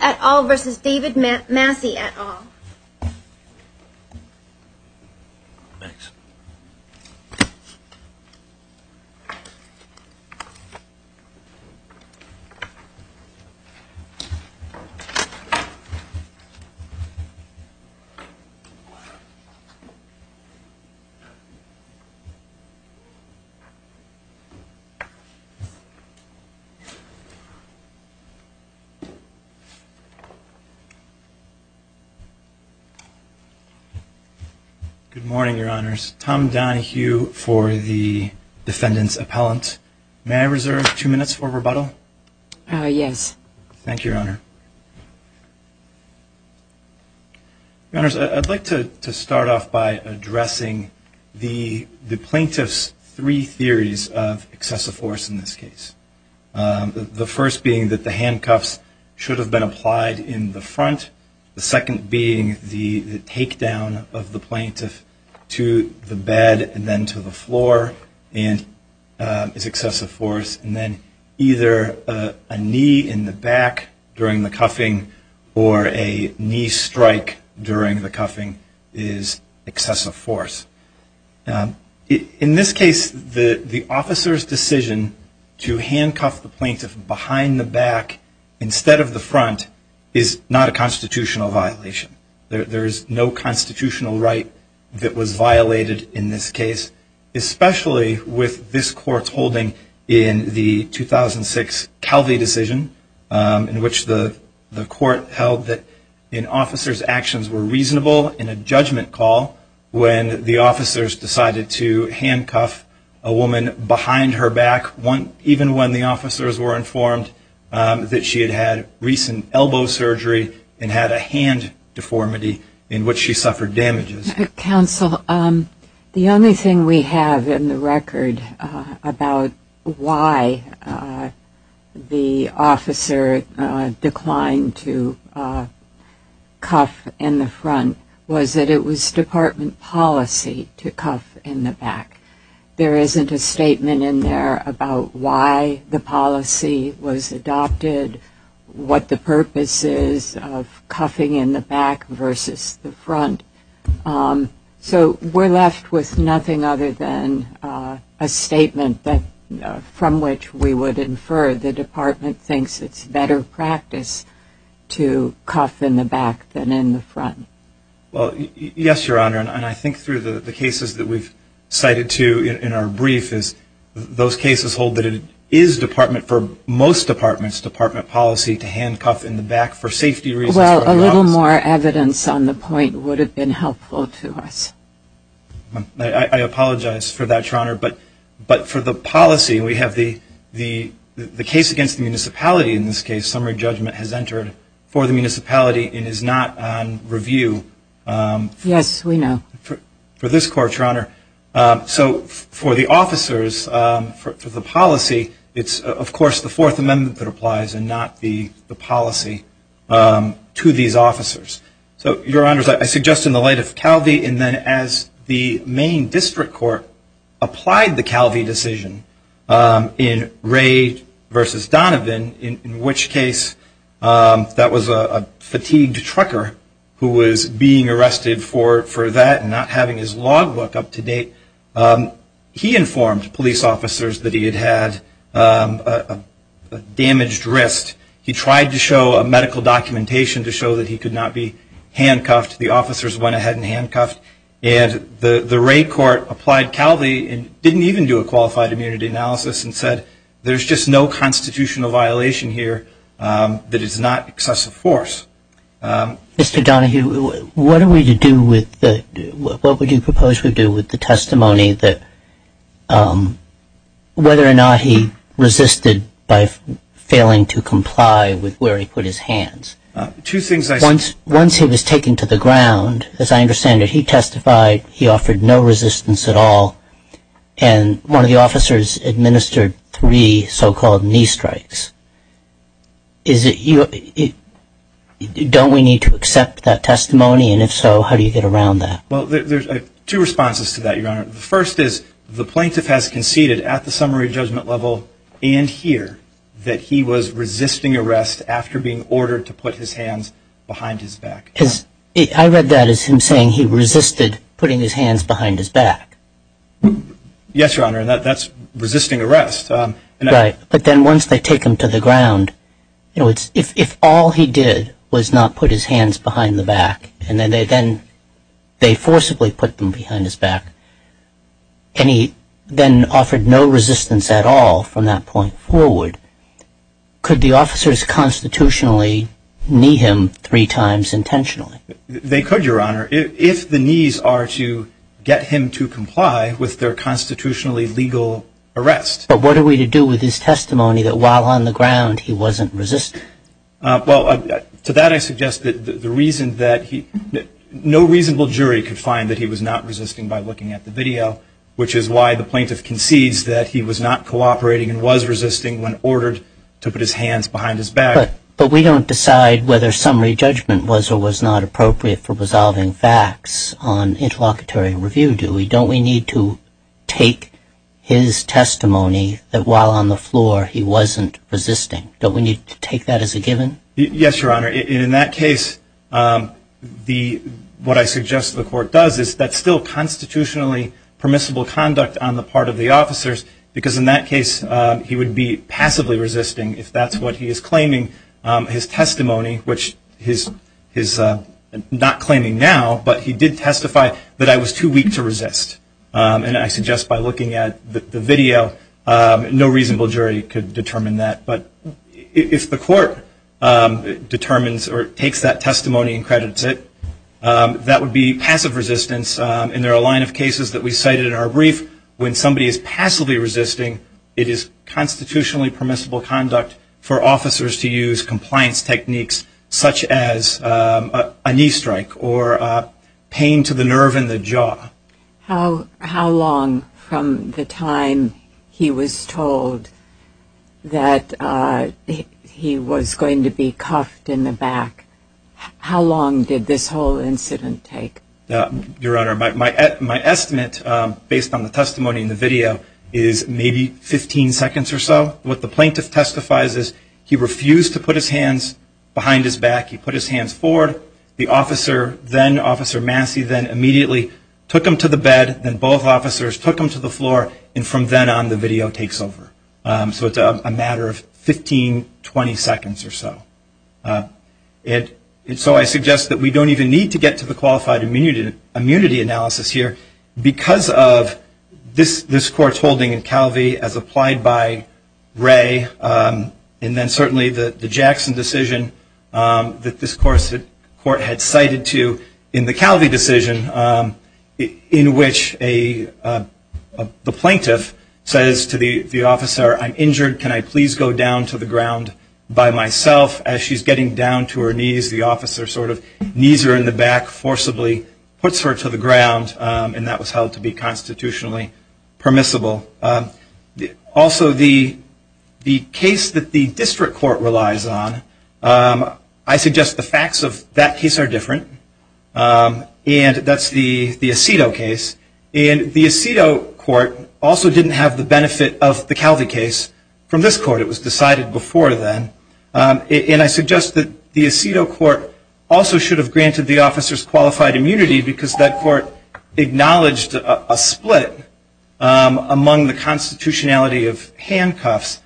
at all versus David Massi at all. Thanks. Good morning, Your Honors. Tom Donohue for the defendant's appellant. May I reserve two minutes for rebuttal? Yes. Thank you, Your Honor. Your Honors, I'd like to start off by addressing the plaintiff's three theories of excessive force in this case. The first being that the handcuffs should have been applied in the front. The second being the takedown of the plaintiff to the bed and then to the floor is excessive force. And then either a knee in the back during the cuffing or a knee strike during the cuffing is excessive force. In this case, the officer's decision to handcuff the plaintiff behind the back instead of the front is not a constitutional violation. There is no constitutional right that was violated in this case, especially with this court's holding in the 2006 Calvi decision, in which the court held that an officer's actions were reasonable in a judgment call when the officers decided to handcuff a woman behind her back, even when the officers were informed that she had had recent elbow surgery and had a hand deformity in which she suffered damages. Counsel, the only thing we have in the record about why the officer declined to cuff in the front was that it was department policy to cuff in the back. There isn't a statement in there about why the policy was adopted, what the purpose is of cuffing in the back versus the front. So we're left with nothing other than a statement from which we would infer the department thinks it's better practice to cuff in the back than in the front. Well, yes, Your Honor. And I think through the cases that we've cited too in our brief is those cases hold that it is department, for most departments, department policy to handcuff in the back for safety reasons. Well, a little more evidence on the point would have been helpful to us. I apologize for that, Your Honor. But for the policy, we have the case against the municipality in this case, summary judgment has entered for the municipality and is not on review. Yes, we know. For this court, Your Honor. So for the officers, for the policy, it's, of course, the Fourth Amendment that applies and not the policy to these officers. So, Your Honors, I suggest in the light of Calvi and then as the main district court applied the Calvi decision in Ray versus Donovan, in which case that was a fatigued trucker who was being arrested for that and not having his log book up to date, he informed police officers that he had had a damaged wrist. He tried to show a medical documentation to show that he could not be handcuffed. The officers went ahead and handcuffed. And the Ray court applied Calvi and didn't even do a qualified immunity analysis and said, there's just no constitutional violation here that is not excessive force. Mr. Donohue, what are we to do with the, what would you propose we do with the testimony that, whether or not he resisted by failing to comply with where he put his hands? Two things I said. Once he was taken to the ground, as I understand it, he testified, he offered no resistance at all, and one of the officers administered three so-called knee strikes. Is it, don't we need to accept that testimony? And if so, how do you get around that? Well, there's two responses to that, Your Honor. The first is the plaintiff has conceded at the summary judgment level and here that he was resisting arrest after being ordered to put his hands behind his back. I read that as him saying he resisted putting his hands behind his back. Yes, Your Honor, and that's resisting arrest. Right. But then once they take him to the ground, if all he did was not put his hands behind the back and then they forcibly put them behind his back and he then offered no resistance at all from that point forward, could the officers constitutionally knee him three times intentionally? They could, Your Honor, if the knees are to get him to comply with their constitutionally legal arrest. But what are we to do with his testimony that while on the ground he wasn't resisting? Well, to that I suggest that the reason that he, no reasonable jury could find that he was not resisting by looking at the video, which is why the plaintiff concedes that he was not cooperating and was resisting when ordered to put his hands behind his back. But we don't decide whether summary judgment was or was not appropriate for resolving facts on interlocutory review, do we? Don't we need to take his testimony that while on the floor he wasn't resisting? Don't we need to take that as a given? Yes, Your Honor, and in that case what I suggest the court does is that's still constitutionally permissible conduct on the part of the officers because in that case he would be passively resisting if that's what he is claiming. His testimony, which he's not claiming now, but he did testify that I was too weak to resist. And I suggest by looking at the video, no reasonable jury could determine that. But if the court determines or takes that testimony and credits it, that would be passive resistance. And there are a line of cases that we cited in our brief. When somebody is passively resisting, it is constitutionally permissible conduct for officers to use compliance techniques such as a knee strike or pain to the nerve in the jaw. How long from the time he was told that he was going to be cuffed in the back, how long did this whole incident take? Your Honor, my estimate based on the testimony in the video is maybe 15 seconds or so. What the plaintiff testifies is he refused to put his hands behind his back. He put his hands forward. The officer then, Officer Massey, then immediately took him to the bed. Then both officers took him to the floor. And from then on the video takes over. So it's a matter of 15, 20 seconds or so. And so I suggest that we don't even need to get to the qualified immunity analysis here. Because of this court's holding in Calvi as applied by Ray and then certainly the Jackson decision that this court had cited to in the Calvi decision in which the plaintiff says to the officer, I'm injured, can I please go down to the ground by myself as she's getting down to her knees, the officer sort of knees her in the back, forcibly puts her to the ground. And that was held to be constitutionally permissible. Also, the case that the district court relies on, I suggest the facts of that case are different. And that's the Aceto case. And the Aceto court also didn't have the benefit of the Calvi case from this court. It was decided before then. And I suggest that the Aceto court also should have granted the officers qualified immunity because that court acknowledged a split among the constitutionality of handcuffs.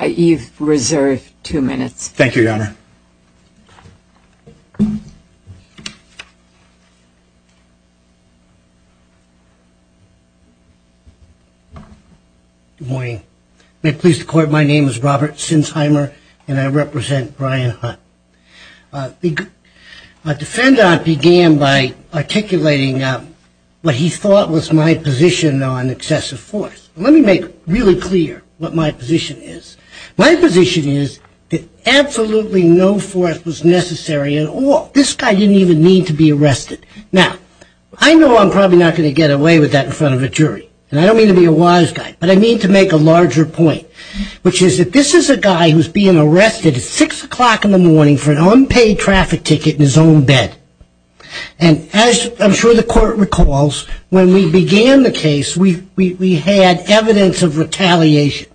You've reserved two minutes. Thank you, Your Honor. Good morning. May it please the court, my name is Robert Sinsheimer and I represent Brian Hunt. A defendant began by articulating what he thought was my position on excessive force. Let me make really clear what my position is. My position is that absolutely no force was necessary at all. This guy didn't even need to be arrested. Now, I know I'm probably not going to get away with that in front of a jury. And I don't mean to be a wise guy. But I mean to make a larger point, which is that this is a guy who's being arrested at 6 o'clock in the morning for an unpaid traffic ticket in his own bed. And as I'm sure the court recalls, when we began the case, we had evidence of retaliation.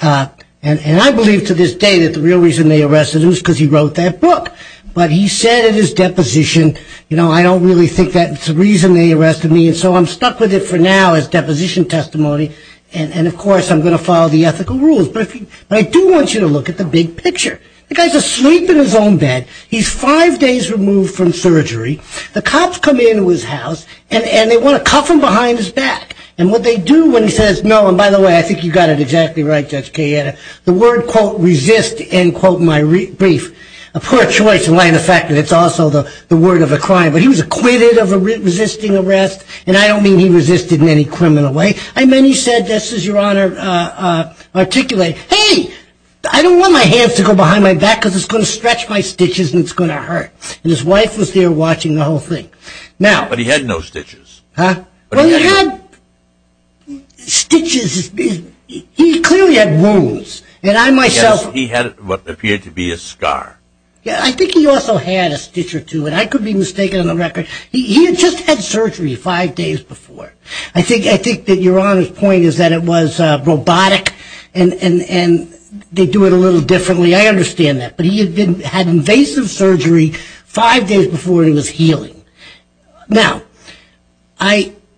And I believe to this day that the real reason they arrested him is because he wrote that book. But he said in his deposition, you know, I don't really think that's the reason they arrested me. And so I'm stuck with it for now as deposition testimony. And, of course, I'm going to follow the ethical rules. But I do want you to look at the big picture. The guy's asleep in his own bed. He's five days removed from surgery. The cops come into his house and they want to cuff him behind his back. And what they do when he says, no, and by the way, I think you got it exactly right, Judge Cayetta, the word, quote, resist, end quote, my brief, a poor choice in light of the fact that it's also the word of a crime. But he was acquitted of resisting arrest. And I don't mean he resisted in any criminal way. I mean, he said, this is your honor, articulate, hey, I don't want my hands to go behind my back because it's going to stretch my stitches and it's going to hurt. And his wife was there watching the whole thing. But he had no stitches. Huh? Well, he had stitches. He clearly had wounds. And I myself. He had what appeared to be a scar. Yeah, I think he also had a stitch or two. And I could be mistaken on the record. He had just had surgery five days before. I think that your honor's point is that it was robotic and they do it a little differently. I understand that. But he had invasive surgery five days before he was healing. Now,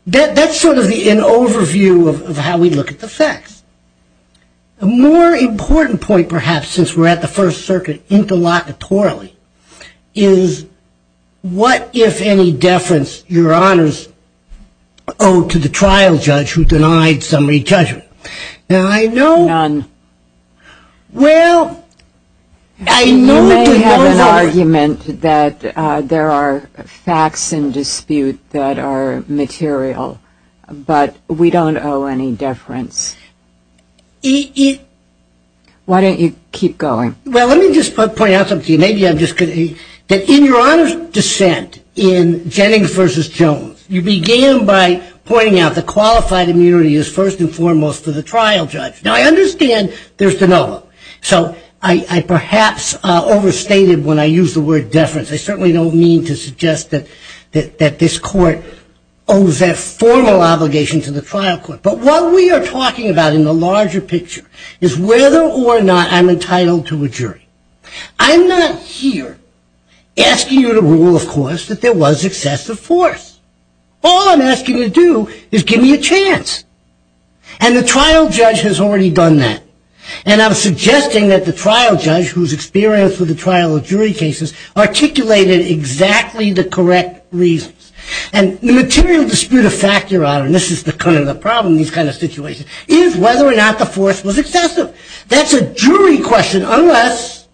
that's sort of an overview of how we look at the facts. A more important point, perhaps, since we're at the First Circuit interlocutorally, is what, if any, deference your honors owe to the trial judge who denied summary judgment. Now, I know. None. Well, I know. I may have an argument that there are facts in dispute that are material. But we don't owe any deference. Why don't you keep going? Well, let me just point out something. Maybe I'm just kidding. That in your honor's dissent in Jennings v. Jones, you began by pointing out the qualified immunity is first and foremost for the trial judge. Now, I understand there's de novo. So I perhaps overstated when I used the word deference. I certainly don't mean to suggest that this court owes that formal obligation to the trial court. But what we are talking about in the larger picture is whether or not I'm entitled to a jury. I'm not here asking you to rule, of course, that there was excessive force. All I'm asking you to do is give me a chance. And the trial judge has already done that. And I'm suggesting that the trial judge, who's experienced with the trial of jury cases, articulated exactly the correct reasons. And the material dispute of fact, your honor, and this is kind of the problem in these kind of situations, is whether or not the force was excessive. That's a jury question unless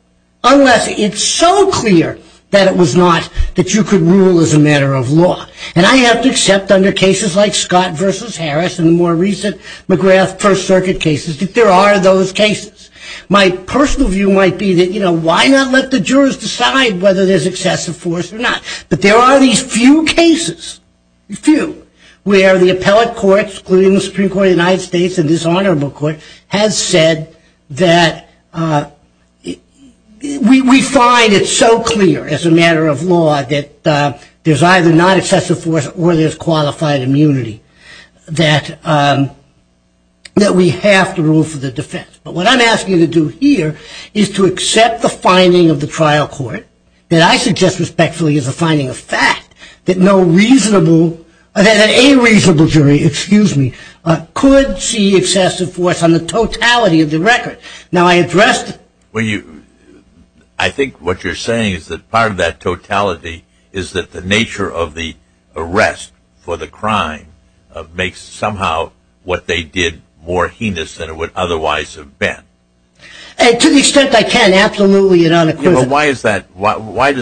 it's so clear that it was not that you could rule as a matter of law. And I have to accept under cases like Scott v. Harris and the more recent McGrath First Circuit cases that there are those cases. My personal view might be that, you know, why not let the jurors decide whether there's excessive force or not? But there are these few cases, few, where the appellate courts, including the Supreme Court of the United States and this honorable court, has said that we find it so clear as a matter of law that there's either not excessive force or there's qualified immunity that we have to rule for the defense. But what I'm asking you to do here is to accept the finding of the trial court, that I suggest respectfully is a finding of fact, that no reasonable or that any reasonable jury, excuse me, could see excessive force on the totality of the record. Now I addressed it. I think what you're saying is that part of that totality is that the nature of the arrest for the crime makes somehow what they did more heinous than it would otherwise have been. To the extent I can, absolutely and unequivocally. Why does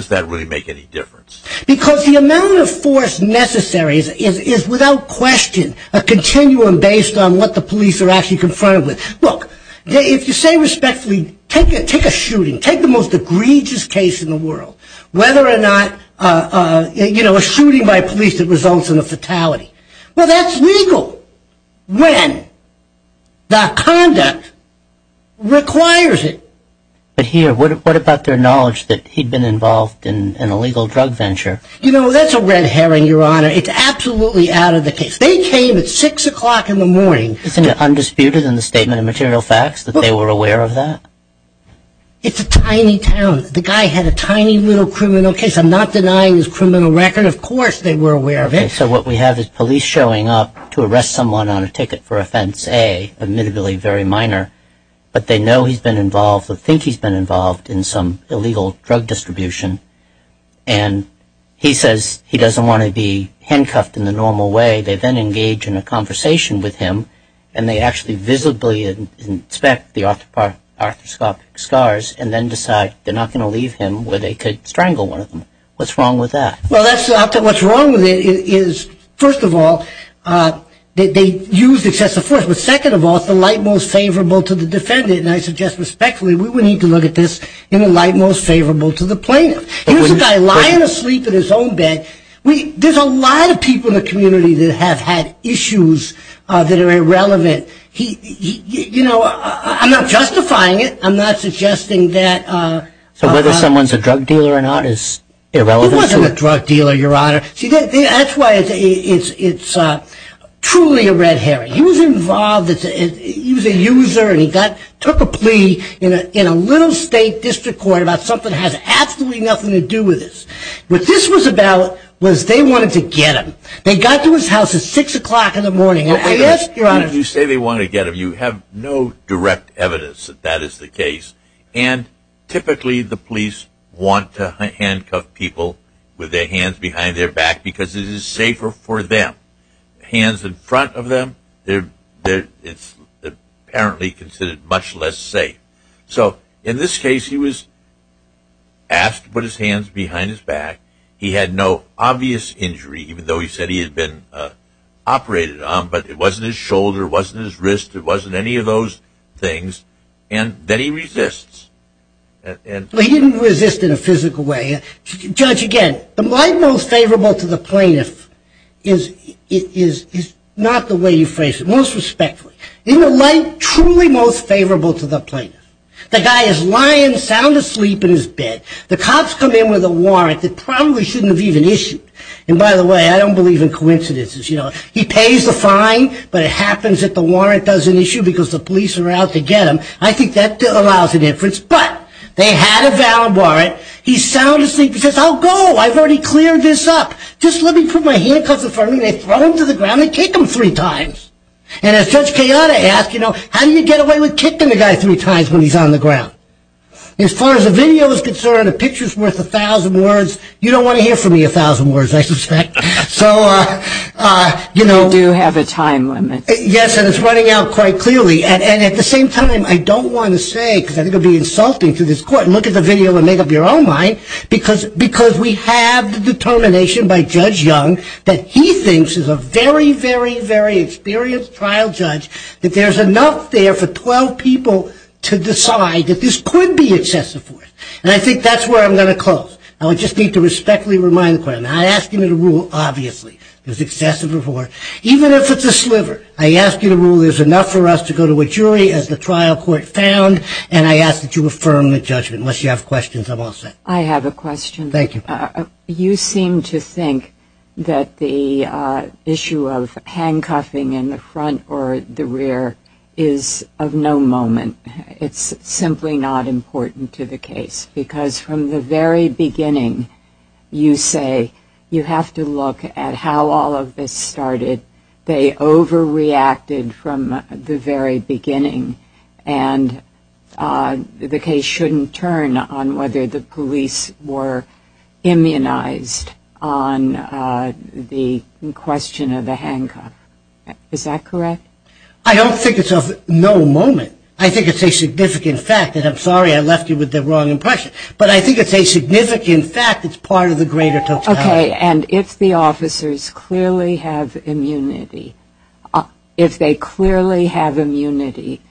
that really make any difference? Because the amount of force necessary is without question a continuum based on what the police are actually confronted with. Look, if you say respectfully take a shooting, take the most egregious case in the world, whether or not, you know, a shooting by police that results in a fatality. Well, that's legal when the conduct requires it. But here, what about their knowledge that he'd been involved in an illegal drug venture? You know, that's a red herring, Your Honor. It's absolutely out of the case. They came at 6 o'clock in the morning. Isn't it undisputed in the statement of material facts that they were aware of that? It's a tiny town. The guy had a tiny little criminal case. I'm not denying his criminal record. Of course they were aware of it. Okay, so what we have is police showing up to arrest someone on a ticket for offense A, admittably very minor, but they know he's been involved or think he's been involved in some illegal drug distribution. And he says he doesn't want to be handcuffed in the normal way. They then engage in a conversation with him, and they actually visibly inspect the arthroscopic scars and then decide they're not going to leave him where they could strangle one of them. What's wrong with that? Well, what's wrong with it is, first of all, they used excessive force. But second of all, it's the light most favorable to the defendant, and I suggest respectfully we need to look at this in the light most favorable to the plaintiff. Here's a guy lying asleep in his own bed. There's a lot of people in the community that have had issues that are irrelevant. You know, I'm not justifying it. I'm not suggesting that. So whether someone's a drug dealer or not is irrelevant to it. He wasn't a drug dealer, Your Honor. See, that's why it's truly a red herring. He was involved. He was a user, and he took a plea in a little state district court about something that has absolutely nothing to do with this. What this was about was they wanted to get him. They got to his house at 6 o'clock in the morning. I asked, Your Honor, You say they wanted to get him. You have no direct evidence that that is the case, and typically the police want to handcuff people with their hands behind their back because it is safer for them. Hands in front of them, it's apparently considered much less safe. So in this case, he was asked to put his hands behind his back. He had no obvious injury, even though he said he had been operated on, but it wasn't his shoulder, it wasn't his wrist, it wasn't any of those things, and then he resists. He didn't resist in a physical way. Judge, again, the line most favorable to the plaintiff is not the way you phrase it. Isn't the line truly most favorable to the plaintiff? The guy is lying sound asleep in his bed. The cops come in with a warrant that probably shouldn't have even issued. And by the way, I don't believe in coincidences. He pays the fine, but it happens that the warrant doesn't issue because the police are out to get him. I think that allows a difference, but they had a valid warrant. He's sound asleep. He says, I'll go. I've already cleared this up. Just let me put my handcuffs in front of me. When they throw him to the ground, they kick him three times. And as Judge Kayana asked, how do you get away with kicking the guy three times when he's on the ground? As far as the video is concerned, a picture is worth a thousand words. You don't want to hear from me a thousand words, I suspect. You do have a time limit. Yes, and it's running out quite clearly. And at the same time, I don't want to say, because I think it would be insulting to this court, look at the video and make up your own mind, because we have the determination by Judge Young that he thinks, as a very, very, very experienced trial judge, that there's enough there for 12 people to decide that this could be excessive force. And I think that's where I'm going to close. I just need to respectfully remind the court, and I ask you to rule, obviously, there's excessive force, even if it's a sliver. I ask you to rule there's enough for us to go to a jury, as the trial court found, and I ask that you affirm the judgment. Unless you have questions, I'm all set. I have a question. Thank you. You seem to think that the issue of handcuffing in the front or the rear is of no moment. It's simply not important to the case, because from the very beginning, you say, you have to look at how all of this started. They overreacted from the very beginning, and the case shouldn't turn on whether the police were immunized on the question of the handcuff. Is that correct? I don't think it's of no moment. I think it's a significant fact, and I'm sorry I left you with the wrong impression, but I think it's a significant fact. It's part of the greater token. Okay, and if the officers clearly have immunity, if they clearly have immunity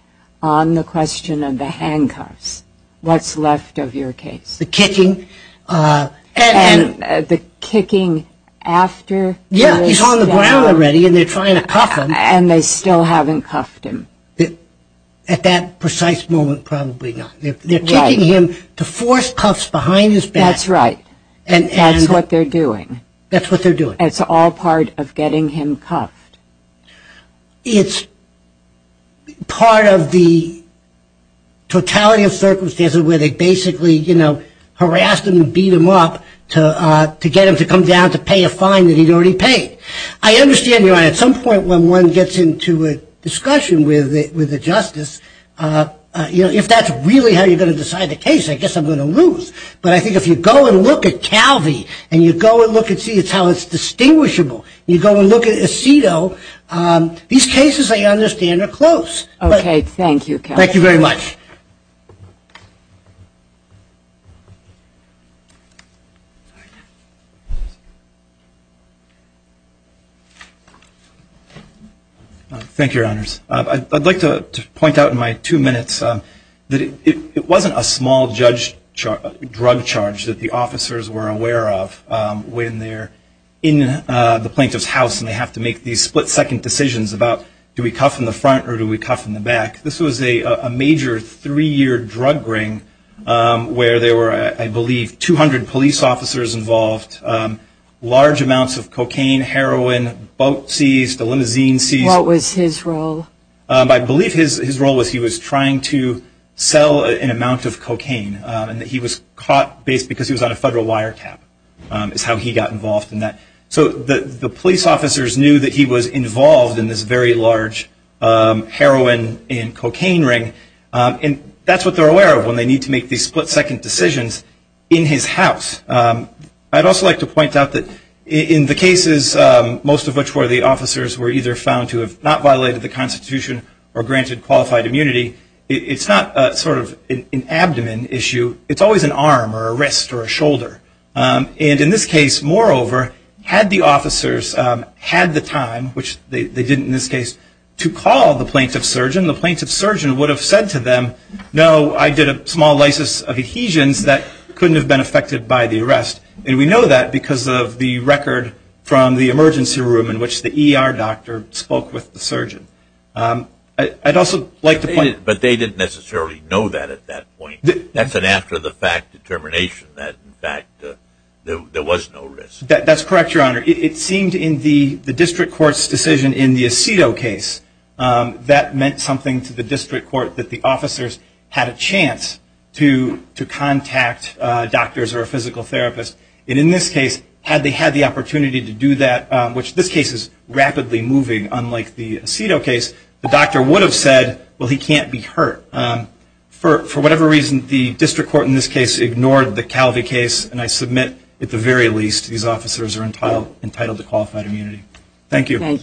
on the question of the handcuffs, what's left of your case? The kicking. The kicking after he was down. Yeah, he's on the ground already, and they're trying to cuff him. And they still haven't cuffed him. At that precise moment, probably not. They're kicking him to force cuffs behind his back. That's right. That's what they're doing. That's what they're doing. It's all part of getting him cuffed. It's part of the totality of circumstances where they basically harassed him and beat him up to get him to come down to pay a fine that he'd already paid. I understand, Your Honor, at some point when one gets into a discussion with the justice, if that's really how you're going to decide the case, I guess I'm going to lose. But I think if you go and look at Calvi and you go and look and see how it's distinguishable, you go and look at Aceto, these cases, I understand, are close. Okay, thank you, Calvi. Thank you very much. Thank you, Your Honors. I'd like to point out in my two minutes that it wasn't a small judge drug charge that the officers were aware of when they're in the plaintiff's house and they have to make these split-second decisions about do we cuff in the front or do we cuff in the back. This was a major three-year drug ring where there were, I believe, 200 police officers involved, large amounts of cocaine, heroin, boat seized, a limousine seized. What was his role? I believe his role was he was trying to sell an amount of cocaine and that he was caught because he was on a federal wiretap is how he got involved in that. So the police officers knew that he was involved in this very large heroin and cocaine ring, and that's what they're aware of when they need to make these split-second decisions in his house. I'd also like to point out that in the cases, most of which were the officers were either found to have not violated the Constitution or granted qualified immunity, it's not sort of an abdomen issue. It's always an arm or a wrist or a shoulder. And in this case, moreover, had the officers had the time, which they didn't in this case, to call the plaintiff's surgeon, the plaintiff's surgeon would have said to them, no, I did a small lysis of adhesions that couldn't have been affected by the arrest. And we know that because of the record from the emergency room in which the ER doctor spoke with the surgeon. I'd also like to point out. But they didn't necessarily know that at that point. That's an after-the-fact determination that, in fact, there was no risk. That's correct, Your Honor. It seemed in the district court's decision in the Aceto case, that meant something to the district court, that the officers had a chance to contact doctors or a physical therapist. And in this case, had they had the opportunity to do that, which this case is rapidly moving unlike the Aceto case, the doctor would have said, well, he can't be hurt. For whatever reason, the district court in this case ignored the Calvi case. And I submit, at the very least, these officers are entitled to qualified immunity. Thank you.